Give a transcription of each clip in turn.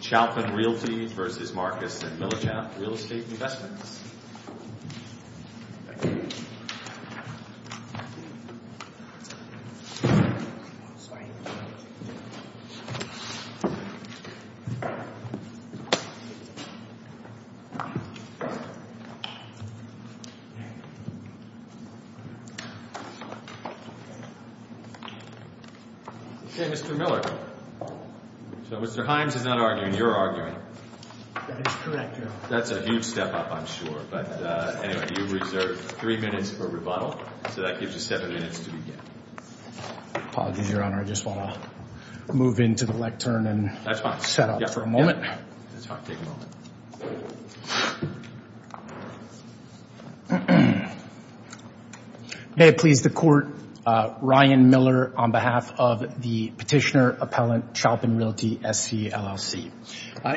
Chalpin Realty SC, LLC v. Marcus and Millichap Real Estate Investment Services Inc. Chalpin Realty SC, LLC v. Marcus and Millichap Real Estate Investment Services Inc.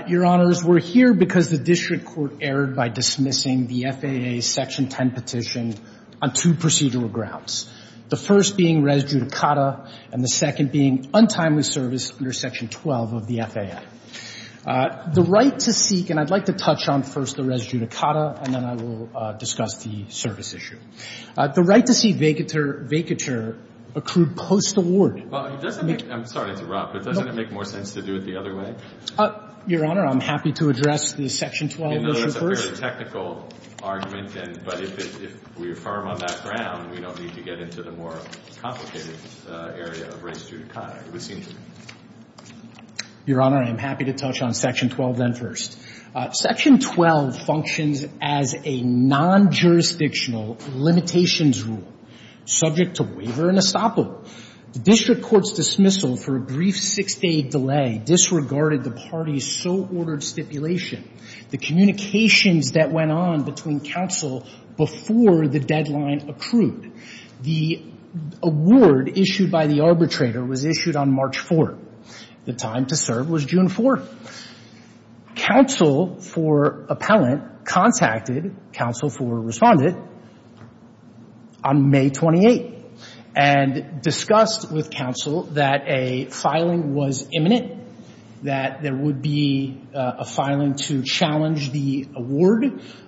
Your Honors, we're here because the district court erred by dismissing the FAA's Section 10 petition on two procedural grounds. The first being res judicata, and the second being untimely service under Section 12 of the FAA. The right to seek, and I'd like to touch on first the res judicata, and then I will discuss the service issue. The right to seek vacatur accrued post award. Well, it doesn't make – I'm sorry to interrupt, but doesn't it make more sense to do it the other way? Your Honor, I'm happy to address the Section 12 issue first. I know that's a fairly technical argument, but if we affirm on that ground, we don't need to get into the more complicated area of res judicata. It would seem to me. Your Honor, I am happy to touch on Section 12 then first. Section 12 functions as a non-jurisdictional limitations rule subject to waiver and estoppel. The district court's dismissal for a brief six-day delay disregarded the party's so-ordered stipulation, the communications that went on between counsel before the deadline accrued. The award issued by the arbitrator was issued on March 4th. The time to serve was June 4th. Counsel for appellant contacted counsel for respondent on May 28th and discussed with counsel that a filing was imminent, that there would be a filing to challenge the award.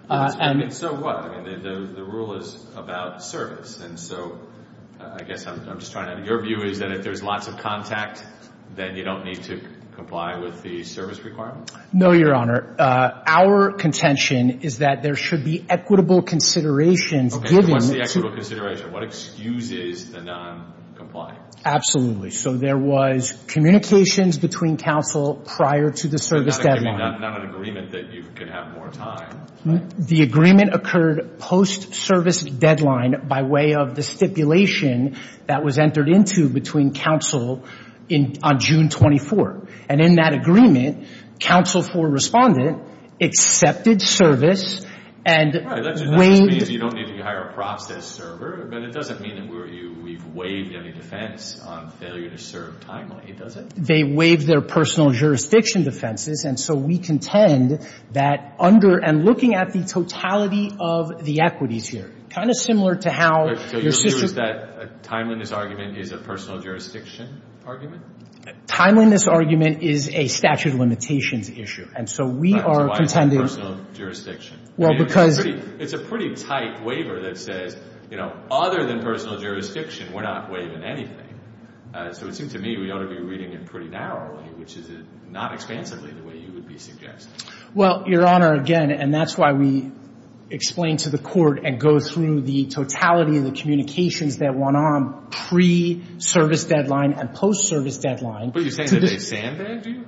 And so what? I mean, the rule is about service, and so I guess I'm just trying to – your view is that if there's lots of contact, then you don't need to comply with the service requirements? No, Your Honor. Our contention is that there should be equitable considerations given to – Okay, so what's the equitable consideration? What excuses the non-compliant? Absolutely. So there was communications between counsel prior to the service deadline. Not an agreement that you could have more time. The agreement occurred post-service deadline by way of the stipulation that was entered into between counsel on June 24th. And in that agreement, counsel for respondent accepted service and waived – But it doesn't mean that we've waived any defense on failure to serve timely, does it? They waived their personal jurisdiction defenses. And so we contend that under – and looking at the totality of the equities here, kind of similar to how your – So your view is that a timeliness argument is a personal jurisdiction argument? Timeliness argument is a statute of limitations issue. And so we are contending – That's why it's a personal jurisdiction. Well, because – It's a pretty tight waiver that says, you know, other than personal jurisdiction, we're not waiving anything. So it seems to me we ought to be reading it pretty narrowly, which is not expansively the way you would be suggesting. Well, Your Honor, again, and that's why we explain to the court and go through the totality of the communications that went on pre-service deadline and post-service deadline. But you're saying that they sandbagged you?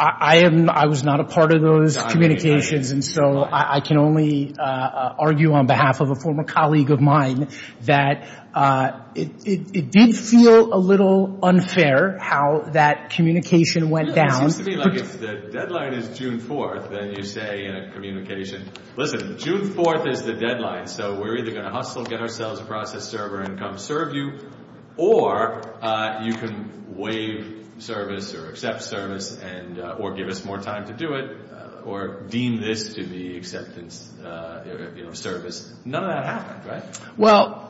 I am – I was not a part of those communications. And so I can only argue on behalf of a former colleague of mine that it did feel a little unfair how that communication went down. It seems to me like if the deadline is June 4th, then you say in a communication, listen, June 4th is the deadline, so we're either going to hustle, get ourselves a process server and come serve you, or you can waive service or accept service or give us more time to do it or deem this to be acceptance, you know, service. None of that happened, right? Well,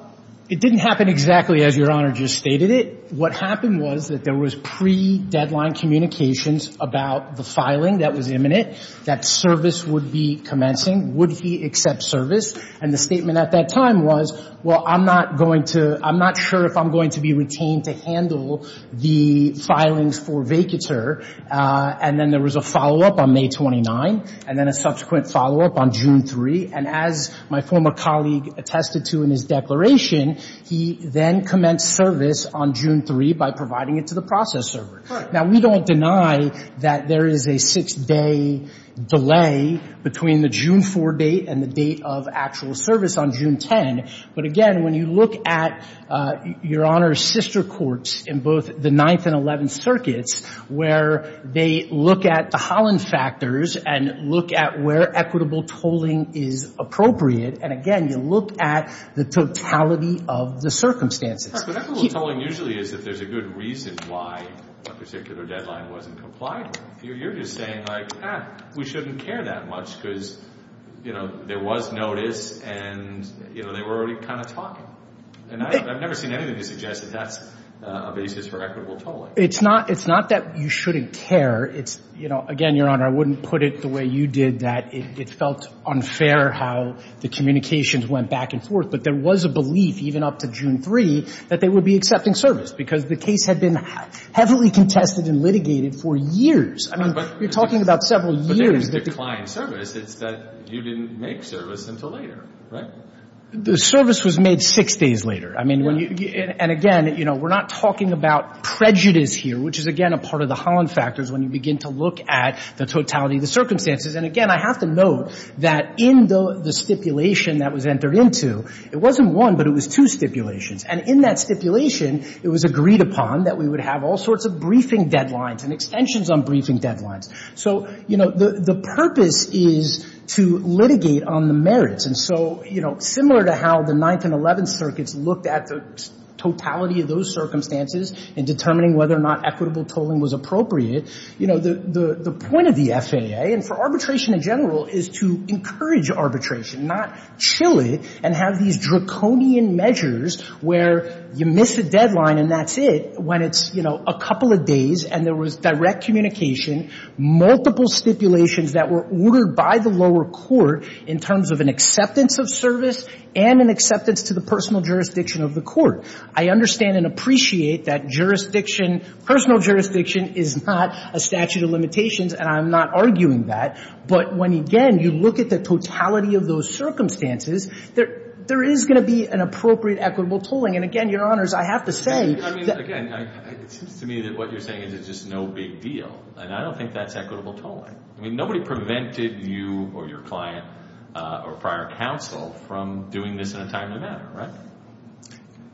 it didn't happen exactly as Your Honor just stated it. What happened was that there was pre-deadline communications about the filing that was imminent, that service would be commencing. Would he accept service? And the statement at that time was, well, I'm not going to – the filings for vacatur, and then there was a follow-up on May 29, and then a subsequent follow-up on June 3. And as my former colleague attested to in his declaration, he then commenced service on June 3 by providing it to the process server. Now, we don't deny that there is a six-day delay between the June 4 date and the date of actual service on June 10. But again, when you look at Your Honor's sister courts in both the Ninth and Eleventh Circuits where they look at the Holland factors and look at where equitable tolling is appropriate, and again, you look at the totality of the circumstances. But equitable tolling usually is if there's a good reason why a particular deadline wasn't complied with. You're just saying, like, ah, we shouldn't care that much because, you know, there was notice and, you know, they were already kind of talking. And I've never seen anything to suggest that that's a basis for equitable tolling. It's not that you shouldn't care. It's, you know, again, Your Honor, I wouldn't put it the way you did, that it felt unfair how the communications went back and forth. But there was a belief, even up to June 3, that they would be accepting service because the case had been heavily contested and litigated for years. I mean, you're talking about several years. It's that you didn't make service until later, right? The service was made six days later. I mean, when you – and again, you know, we're not talking about prejudice here, which is, again, a part of the Holland factors when you begin to look at the totality of the circumstances. And again, I have to note that in the stipulation that was entered into, it wasn't one, but it was two stipulations. And in that stipulation, it was agreed upon that we would have all sorts of briefing deadlines and extensions on briefing deadlines. So, you know, the purpose is to litigate on the merits. And so, you know, similar to how the Ninth and Eleventh Circuits looked at the totality of those circumstances in determining whether or not equitable tolling was appropriate, you know, the point of the FAA and for arbitration in general is to encourage arbitration, not chill it and have these draconian measures where you miss a deadline and that's it when it's, you know, a couple of days and there was direct communication, multiple stipulations that were ordered by the lower court in terms of an acceptance of service and an acceptance to the personal jurisdiction of the court. I understand and appreciate that jurisdiction, personal jurisdiction is not a statute of limitations and I'm not arguing that. But when, again, you look at the totality of those circumstances, there is going to be an appropriate equitable tolling. And again, Your Honors, I have to say that I mean, again, it seems to me that what you're saying is it's just no big deal and I don't think that's equitable tolling. I mean, nobody prevented you or your client or prior counsel from doing this in a timely manner, right?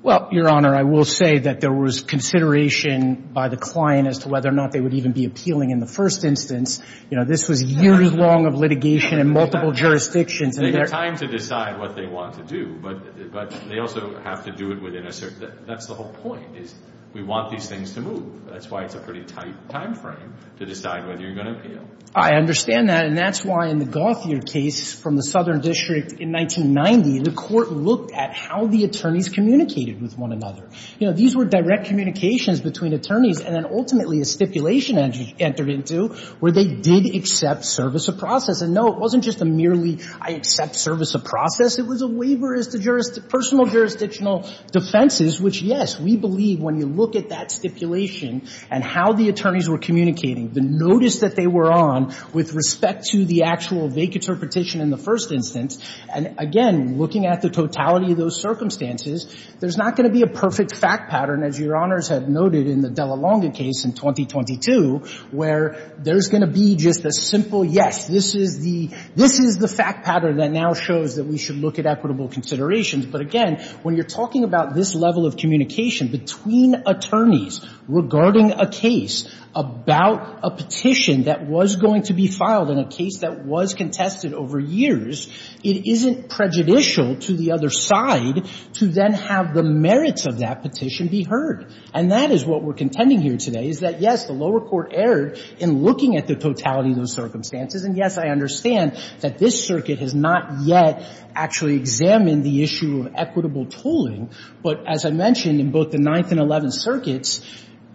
Well, Your Honor, I will say that there was consideration by the client as to whether or not they would even be appealing in the first instance. You know, this was years long of litigation in multiple jurisdictions. They had time to decide what they want to do, but they also have to do it within a certain That's the whole point is we want these things to move. That's why it's a pretty tight time frame to decide whether you're going to appeal. I understand that and that's why in the Gauthier case from the Southern District in 1990, the court looked at how the attorneys communicated with one another. You know, these were direct communications between attorneys and then ultimately a stipulation entered into where they did accept service of process. And no, it wasn't just a merely I accept service of process. It was a waiver as to personal jurisdictional defenses, which, yes, we believe when you look at that stipulation and how the attorneys were communicating, the notice that they were on with respect to the actual vague interpretation in the first instance, and, again, looking at the totality of those circumstances, there's not going to be a perfect fact pattern, as Your Honors have noted in the Dallalonga case in 2022, where there's going to be just a simple, yes, this is the fact pattern that now shows that we should look at equitable considerations. But, again, when you're talking about this level of communication between attorneys regarding a case about a petition that was going to be filed in a case that was contested over years, it isn't prejudicial to the other side to then have the merits of that petition be heard. And that is what we're contending here today, is that, yes, the lower court erred in looking at the totality of those circumstances. And, yes, I understand that this circuit has not yet actually examined the issue of equitable tolling. But, as I mentioned, in both the Ninth and Eleventh Circuits,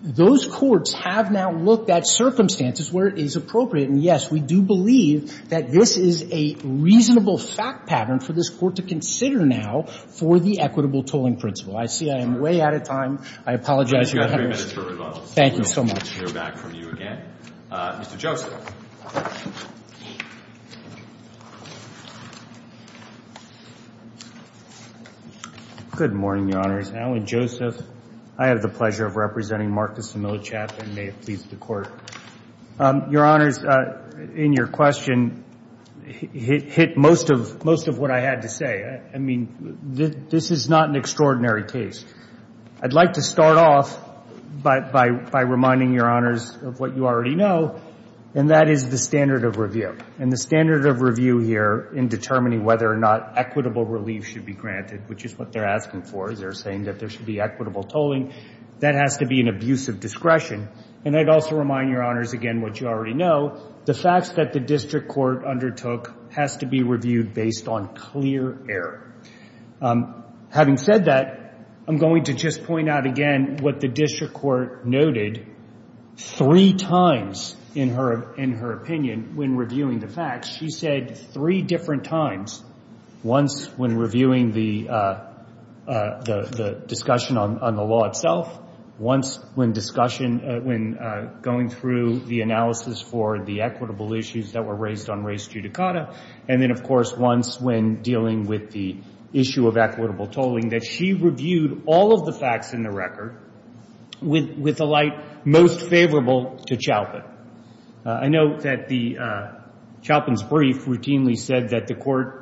those courts have now looked at circumstances where it is appropriate. And, yes, we do believe that this is a reasonable fact pattern for this Court to consider now for the equitable tolling principle. I see I am way out of time. I apologize, Your Honors. Thank you so much. I'd like to hear back from you again. Mr. Joseph. Good morning, Your Honors. Alan Joseph. I have the pleasure of representing Marcus Similichap and may it please the Court. Your Honors, in your question, it hit most of what I had to say. I mean, this is not an extraordinary case. I'd like to start off by reminding Your Honors of what you already know, and that is the standard of review. And the standard of review here in determining whether or not equitable relief should be granted, which is what they're asking for is they're saying that there should be equitable tolling, that has to be an abuse of discretion. And I'd also remind Your Honors again what you already know, the facts that the District Court undertook has to be reviewed based on clear error. Having said that, I'm going to just point out again what the District Court noted three times in her opinion when reviewing the facts. She said three different times, once when reviewing the discussion on the law itself, once when going through the analysis for the equitable issues that were raised on res judicata, and then, of course, once when dealing with the issue of equitable tolling, that she reviewed all of the facts in the record with a light most favorable to Chalpin. I know that Chalpin's brief routinely said that the Court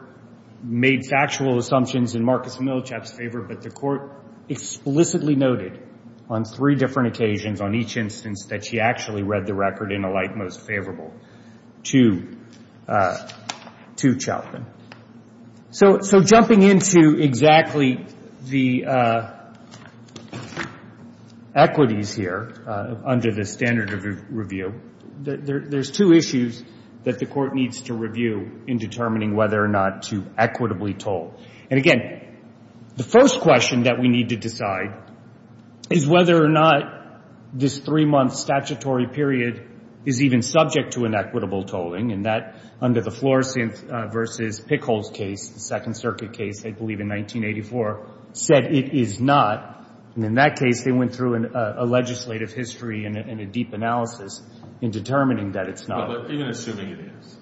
made factual assumptions in Marcus Milchap's favor, but the Court explicitly noted on three different occasions on each instance that she actually read the record in a light most favorable to Chalpin. So jumping into exactly the equities here under the standard of review, there's two issues that the Court needs to review in determining whether or not to equitably toll. And again, the first question that we need to decide is whether or not this three-month statutory period is even subject to inequitable tolling. And that, under the Flores v. Pickles case, the Second Circuit case, I believe in 1984, said it is not. And in that case, they went through a legislative history and a deep analysis in determining that it's not. But even assuming it is.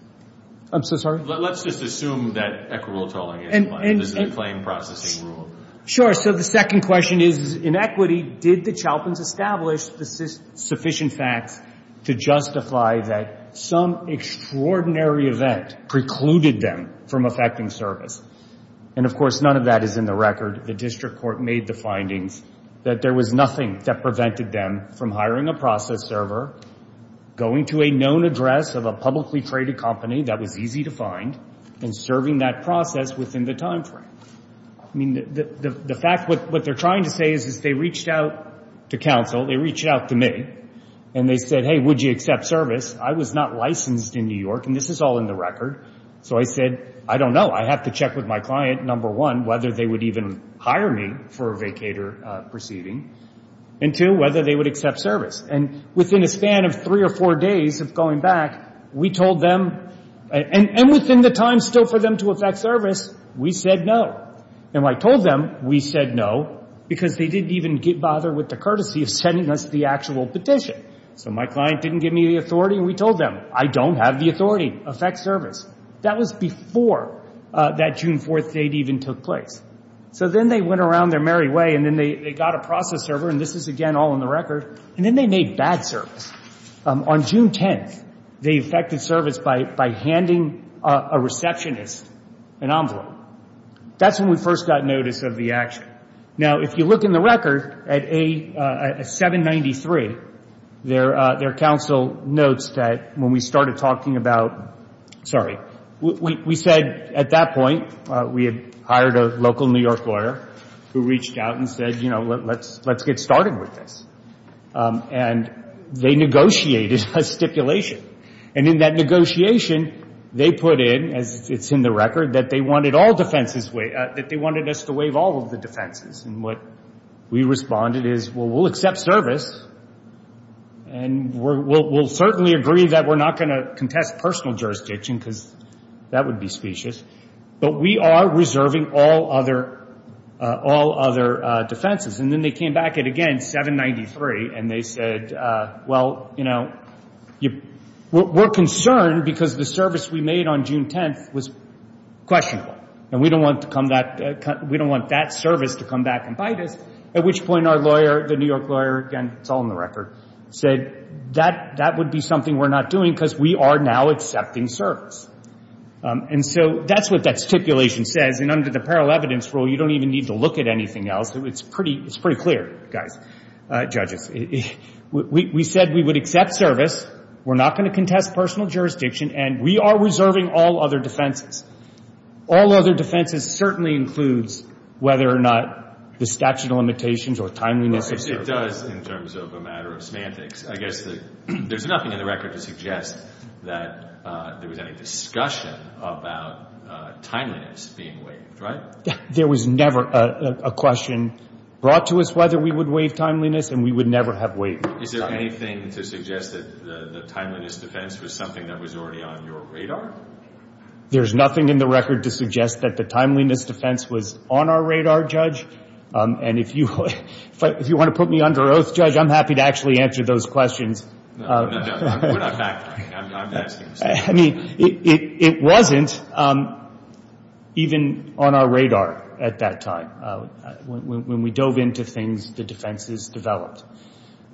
I'm so sorry? Let's just assume that equitable tolling is the claim processing rule. Sure. So the second question is, in equity, did the Chalpins establish sufficient facts to justify that some extraordinary event precluded them from effecting service? And of course, none of that is in the record. The district court made the findings that there was nothing that prevented them from hiring a process server, going to a known address of a publicly traded company that was easy to find, and serving that process within the time frame. I mean, the fact, what they're trying to say is they reached out to counsel, they reached out to me, and they said, hey, would you accept service? I was not licensed in New York, and this is all in the record. So I said, I don't know. I have to check with my client, number one, whether they would even hire me for a vacator proceeding, and two, whether they would accept service. And within a span of three or four days of going back, we told them, and within the time still for them to effect service, we said no. And when I told them, we said no, because they didn't even bother with the courtesy of sending us the actual petition. So my client didn't give me the authority, and we told them, I don't have the authority. Effect service. That was before that June 4th date even took place. So then they went around their merry way, and then they got a process server, and this is again all in the record, and then they made bad service. On June 10th, they effected service by handing a receptionist an envelope. That's when we first got notice of the action. Now, if you look in the record, at 793, their counsel notes that when we started talking about, sorry, we said at that point we had hired a local New York lawyer who reached out and said, you know, let's get started with this. And they negotiated a stipulation. And in that negotiation, they put in, as it's in the record, that they wanted all defenses, that they wanted us to waive all of the defenses. And what we responded is, well, we'll accept service, and we'll certainly agree that we're not going to contest personal jurisdiction because that would be specious, but we are reserving all other defenses. And then they came back at, again, 793, and they said, well, you know, we're concerned because the service we made on June 10th was questionable, and we don't want that service to come back and bite us. At which point our lawyer, the New York lawyer, again, it's all in the record, said that would be something we're not doing because we are now accepting service. And so that's what that stipulation says. And under the parallel evidence rule, you don't even need to look at anything else. It's pretty clear, guys, judges. We said we would accept service. We're not going to contest personal jurisdiction, and we are reserving all other defenses. All other defenses certainly includes whether or not the statute of limitations or timeliness of service. Well, it does in terms of a matter of semantics. I guess there's nothing in the record to suggest that there was any discussion about timeliness being waived, right? There was never a question brought to us whether we would waive timeliness, and we would never have waived it. Is there anything to suggest that the timeliness defense was something that was already on your radar? There's nothing in the record to suggest that the timeliness defense was on our radar, Judge. And if you want to put me under oath, Judge, I'm happy to actually answer those questions. No, no, no. We're not factoring. I'm asking. I mean, it wasn't even on our radar at that time when we dove into things the defenses developed.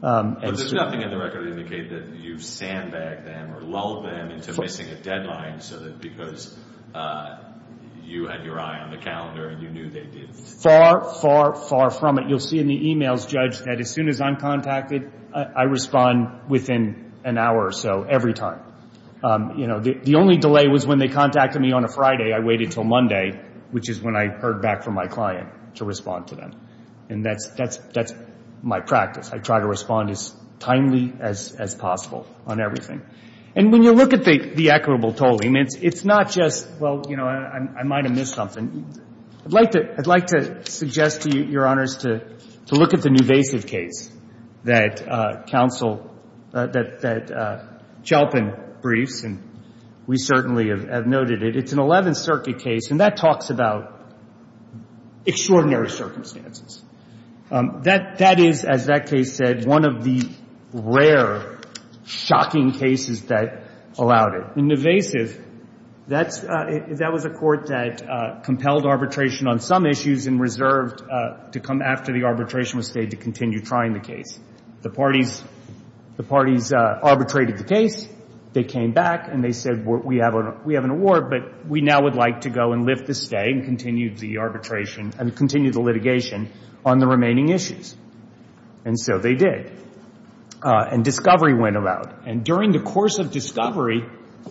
But there's nothing in the record to indicate that you sandbagged them or lulled them into missing a deadline so that because you had your eye on the calendar and you knew they did. Far, far, far from it. You'll see in the emails, Judge, that as soon as I'm contacted, I respond within an hour or so every time. You know, the only delay was when they contacted me on a Friday. I waited until Monday, which is when I heard back from my client, to respond to them. And that's my practice. I try to respond as timely as possible on everything. And when you look at the equitable tolling, it's not just, well, you know, I might have missed something. I'd like to suggest to you, Your Honors, to look at the newvasive case that counsel, that Chalpin briefs, and we certainly have noted it. It's an Eleventh Circuit case, and that talks about extraordinary circumstances. That is, as that case said, one of the rare, shocking cases that allowed it. In thevasive, that was a court that compelled arbitration on some issues and reserved to come after the arbitration was stayed to continue trying the case. The parties arbitrated the case. They came back and they said, we have an award, but we now would like to go and lift the stay and continue the arbitration and continue the litigation on the remaining issues. And so they did. And discovery went about. And during the course of discovery,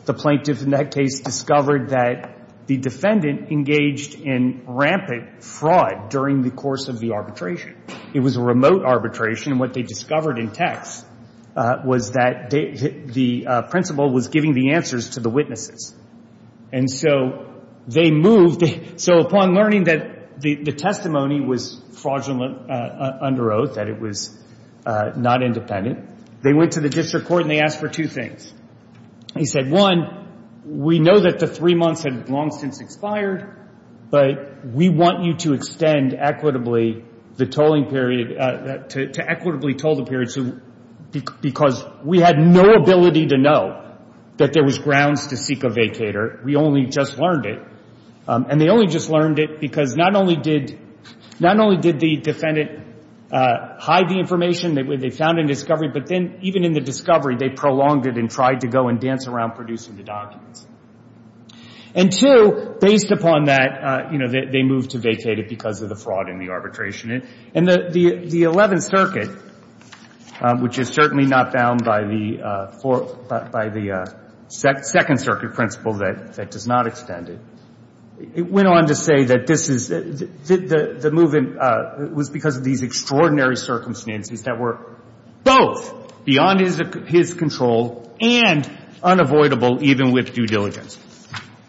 the plaintiff in that case discovered that the defendant engaged in rampant fraud during the course of the arbitration. It was a remote arbitration. And what they discovered in text was that the principal was giving the answers to the witnesses. And so they moved. So upon learning that the testimony was fraudulent under oath, that it was not independent, they went to the district court and they asked for two things. They said, one, we know that the three months had long since expired, but we want you to extend equitably the tolling period to equitably toll the period because we had no ability to know that there was grounds to seek a vacator. We only just learned it. And they only just learned it because not only did the defendant hide the information they found in discovery, but then even in the discovery they prolonged it and tried to go and dance around producing the documents. And, two, based upon that, you know, they moved to vacate it because of the fraud in the arbitration. And the Eleventh Circuit, which is certainly not bound by the Second Circuit principle that does not extend it, went on to say that this is the movement was because of these extraordinary circumstances that were both beyond his control and unavoidable even with due diligence.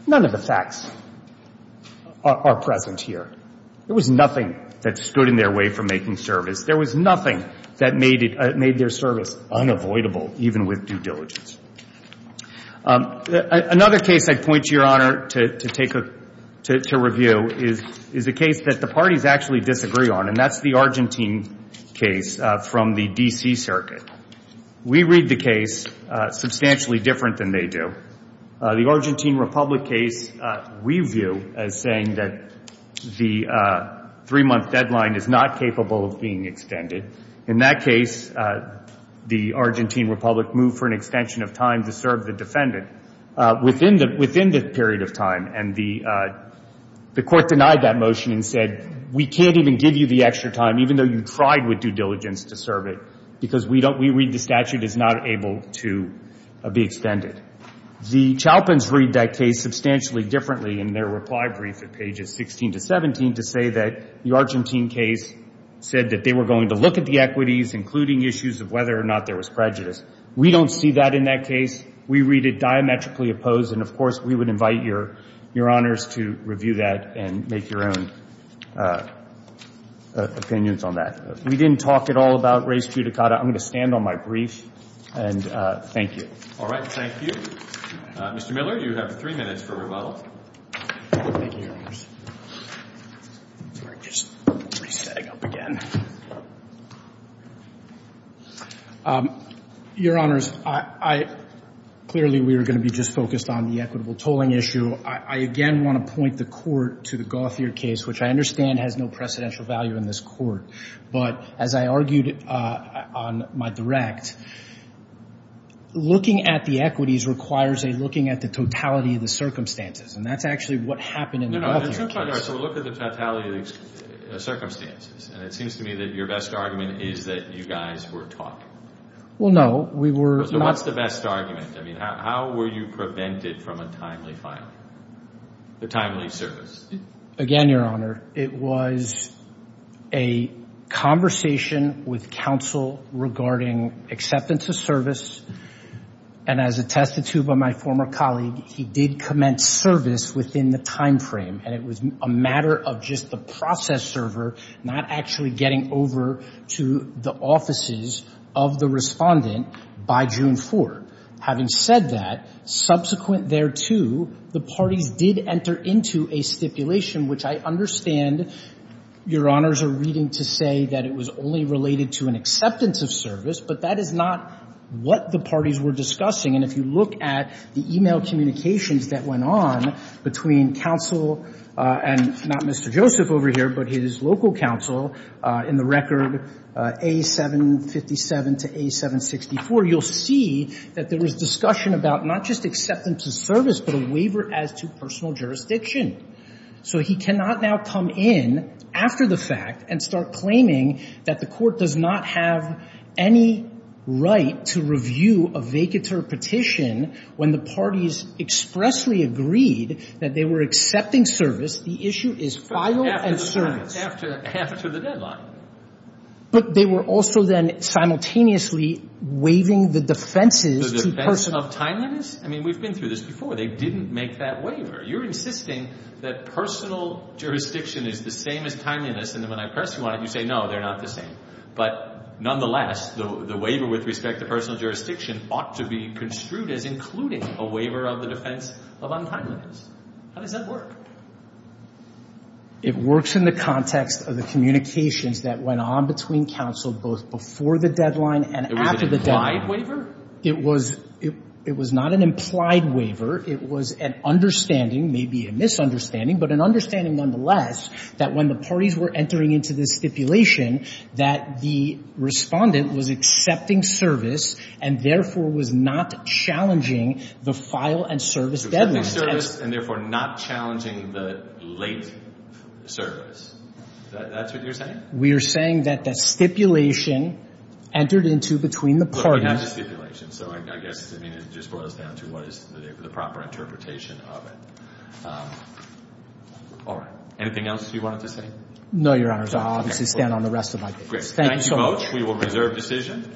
None of the facts are present here. There was nothing that stood in their way from making service. There was nothing that made their service unavoidable even with due diligence. Another case I'd point to, Your Honor, to review is a case that the parties actually disagree on, and that's the Argentine case from the D.C. Circuit. We read the case substantially different than they do. The Argentine Republic case we view as saying that the three-month deadline is not capable of being extended. In that case, the Argentine Republic moved for an extension of time to serve the defendant within the period of time. And the Court denied that motion and said, we can't even give you the extra time, even though you tried with due diligence to serve it, because we read the statute as not able to be extended. The Chalpins read that case substantially differently in their reply brief at pages 16 to 17 to say that the Argentine case said that they were going to look at the equities, including issues of whether or not there was prejudice. We don't see that in that case. We read it diametrically opposed. And, of course, we would invite Your Honors to review that and make your own opinions on that. We didn't talk at all about res judicata. I'm going to stand on my brief, and thank you. All right. Thank you. Mr. Miller, you have three minutes for rebuttal. Thank you, Your Honors. Sorry, just resetting up again. Your Honors, clearly we were going to be just focused on the equitable tolling issue. I again want to point the Court to the Gauthier case, which I understand has no precedential value in this court. But as I argued on my direct, looking at the equities requires a looking at the totality of the circumstances, and that's actually what happened in the Gauthier case. No, no, there's no totality. There's no totality of the circumstances. And it seems to me that your best argument is that you guys were talking. Well, no, we were not. So what's the best argument? I mean, how were you prevented from a timely filing, a timely service? Again, Your Honor, it was a conversation with counsel regarding acceptance of service. And as attested to by my former colleague, he did commence service within the time frame, and it was a matter of just the process server not actually getting over to the offices of the respondent by June 4th. Having said that, subsequent thereto, the parties did enter into a stipulation, which I understand Your Honors are reading to say that it was only related to an acceptance of service, but that is not what the parties were discussing. And if you look at the e-mail communications that went on between counsel and not Mr. Joseph over here, but his local counsel in the record A757 to A764, you'll see that there was discussion about not just acceptance of service, but a waiver as to personal jurisdiction. So he cannot now come in after the fact and start claiming that the court does not have any right to review a vacatur petition when the parties expressly agreed that they were accepting service. The issue is file and service. After the deadline. But they were also then simultaneously waiving the defenses to personal. The defense of timeliness? I mean, we've been through this before. They didn't make that waiver. You're insisting that personal jurisdiction is the same as timeliness, and then when I press you on it, you say, no, they're not the same. But nonetheless, the waiver with respect to personal jurisdiction ought to be construed as including a waiver of the defense of untimeliness. How does that work? It works in the context of the communications that went on between counsel both before the deadline and after the deadline. It was an implied waiver? It was not an implied waiver. It was an understanding, maybe a misunderstanding, but an understanding nonetheless that when the parties were entering into the stipulation that the respondent was accepting service and therefore was not challenging the file and service deadline. Accepting service and therefore not challenging the late service. That's what you're saying? We are saying that the stipulation entered into between the parties. Not the stipulation. So I guess, I mean, it just boils down to what is the proper interpretation of it. All right. Anything else you wanted to say? No, Your Honors. I'll obviously stand on the rest of my case. Great. Thank you, Coach. We will reserve decision.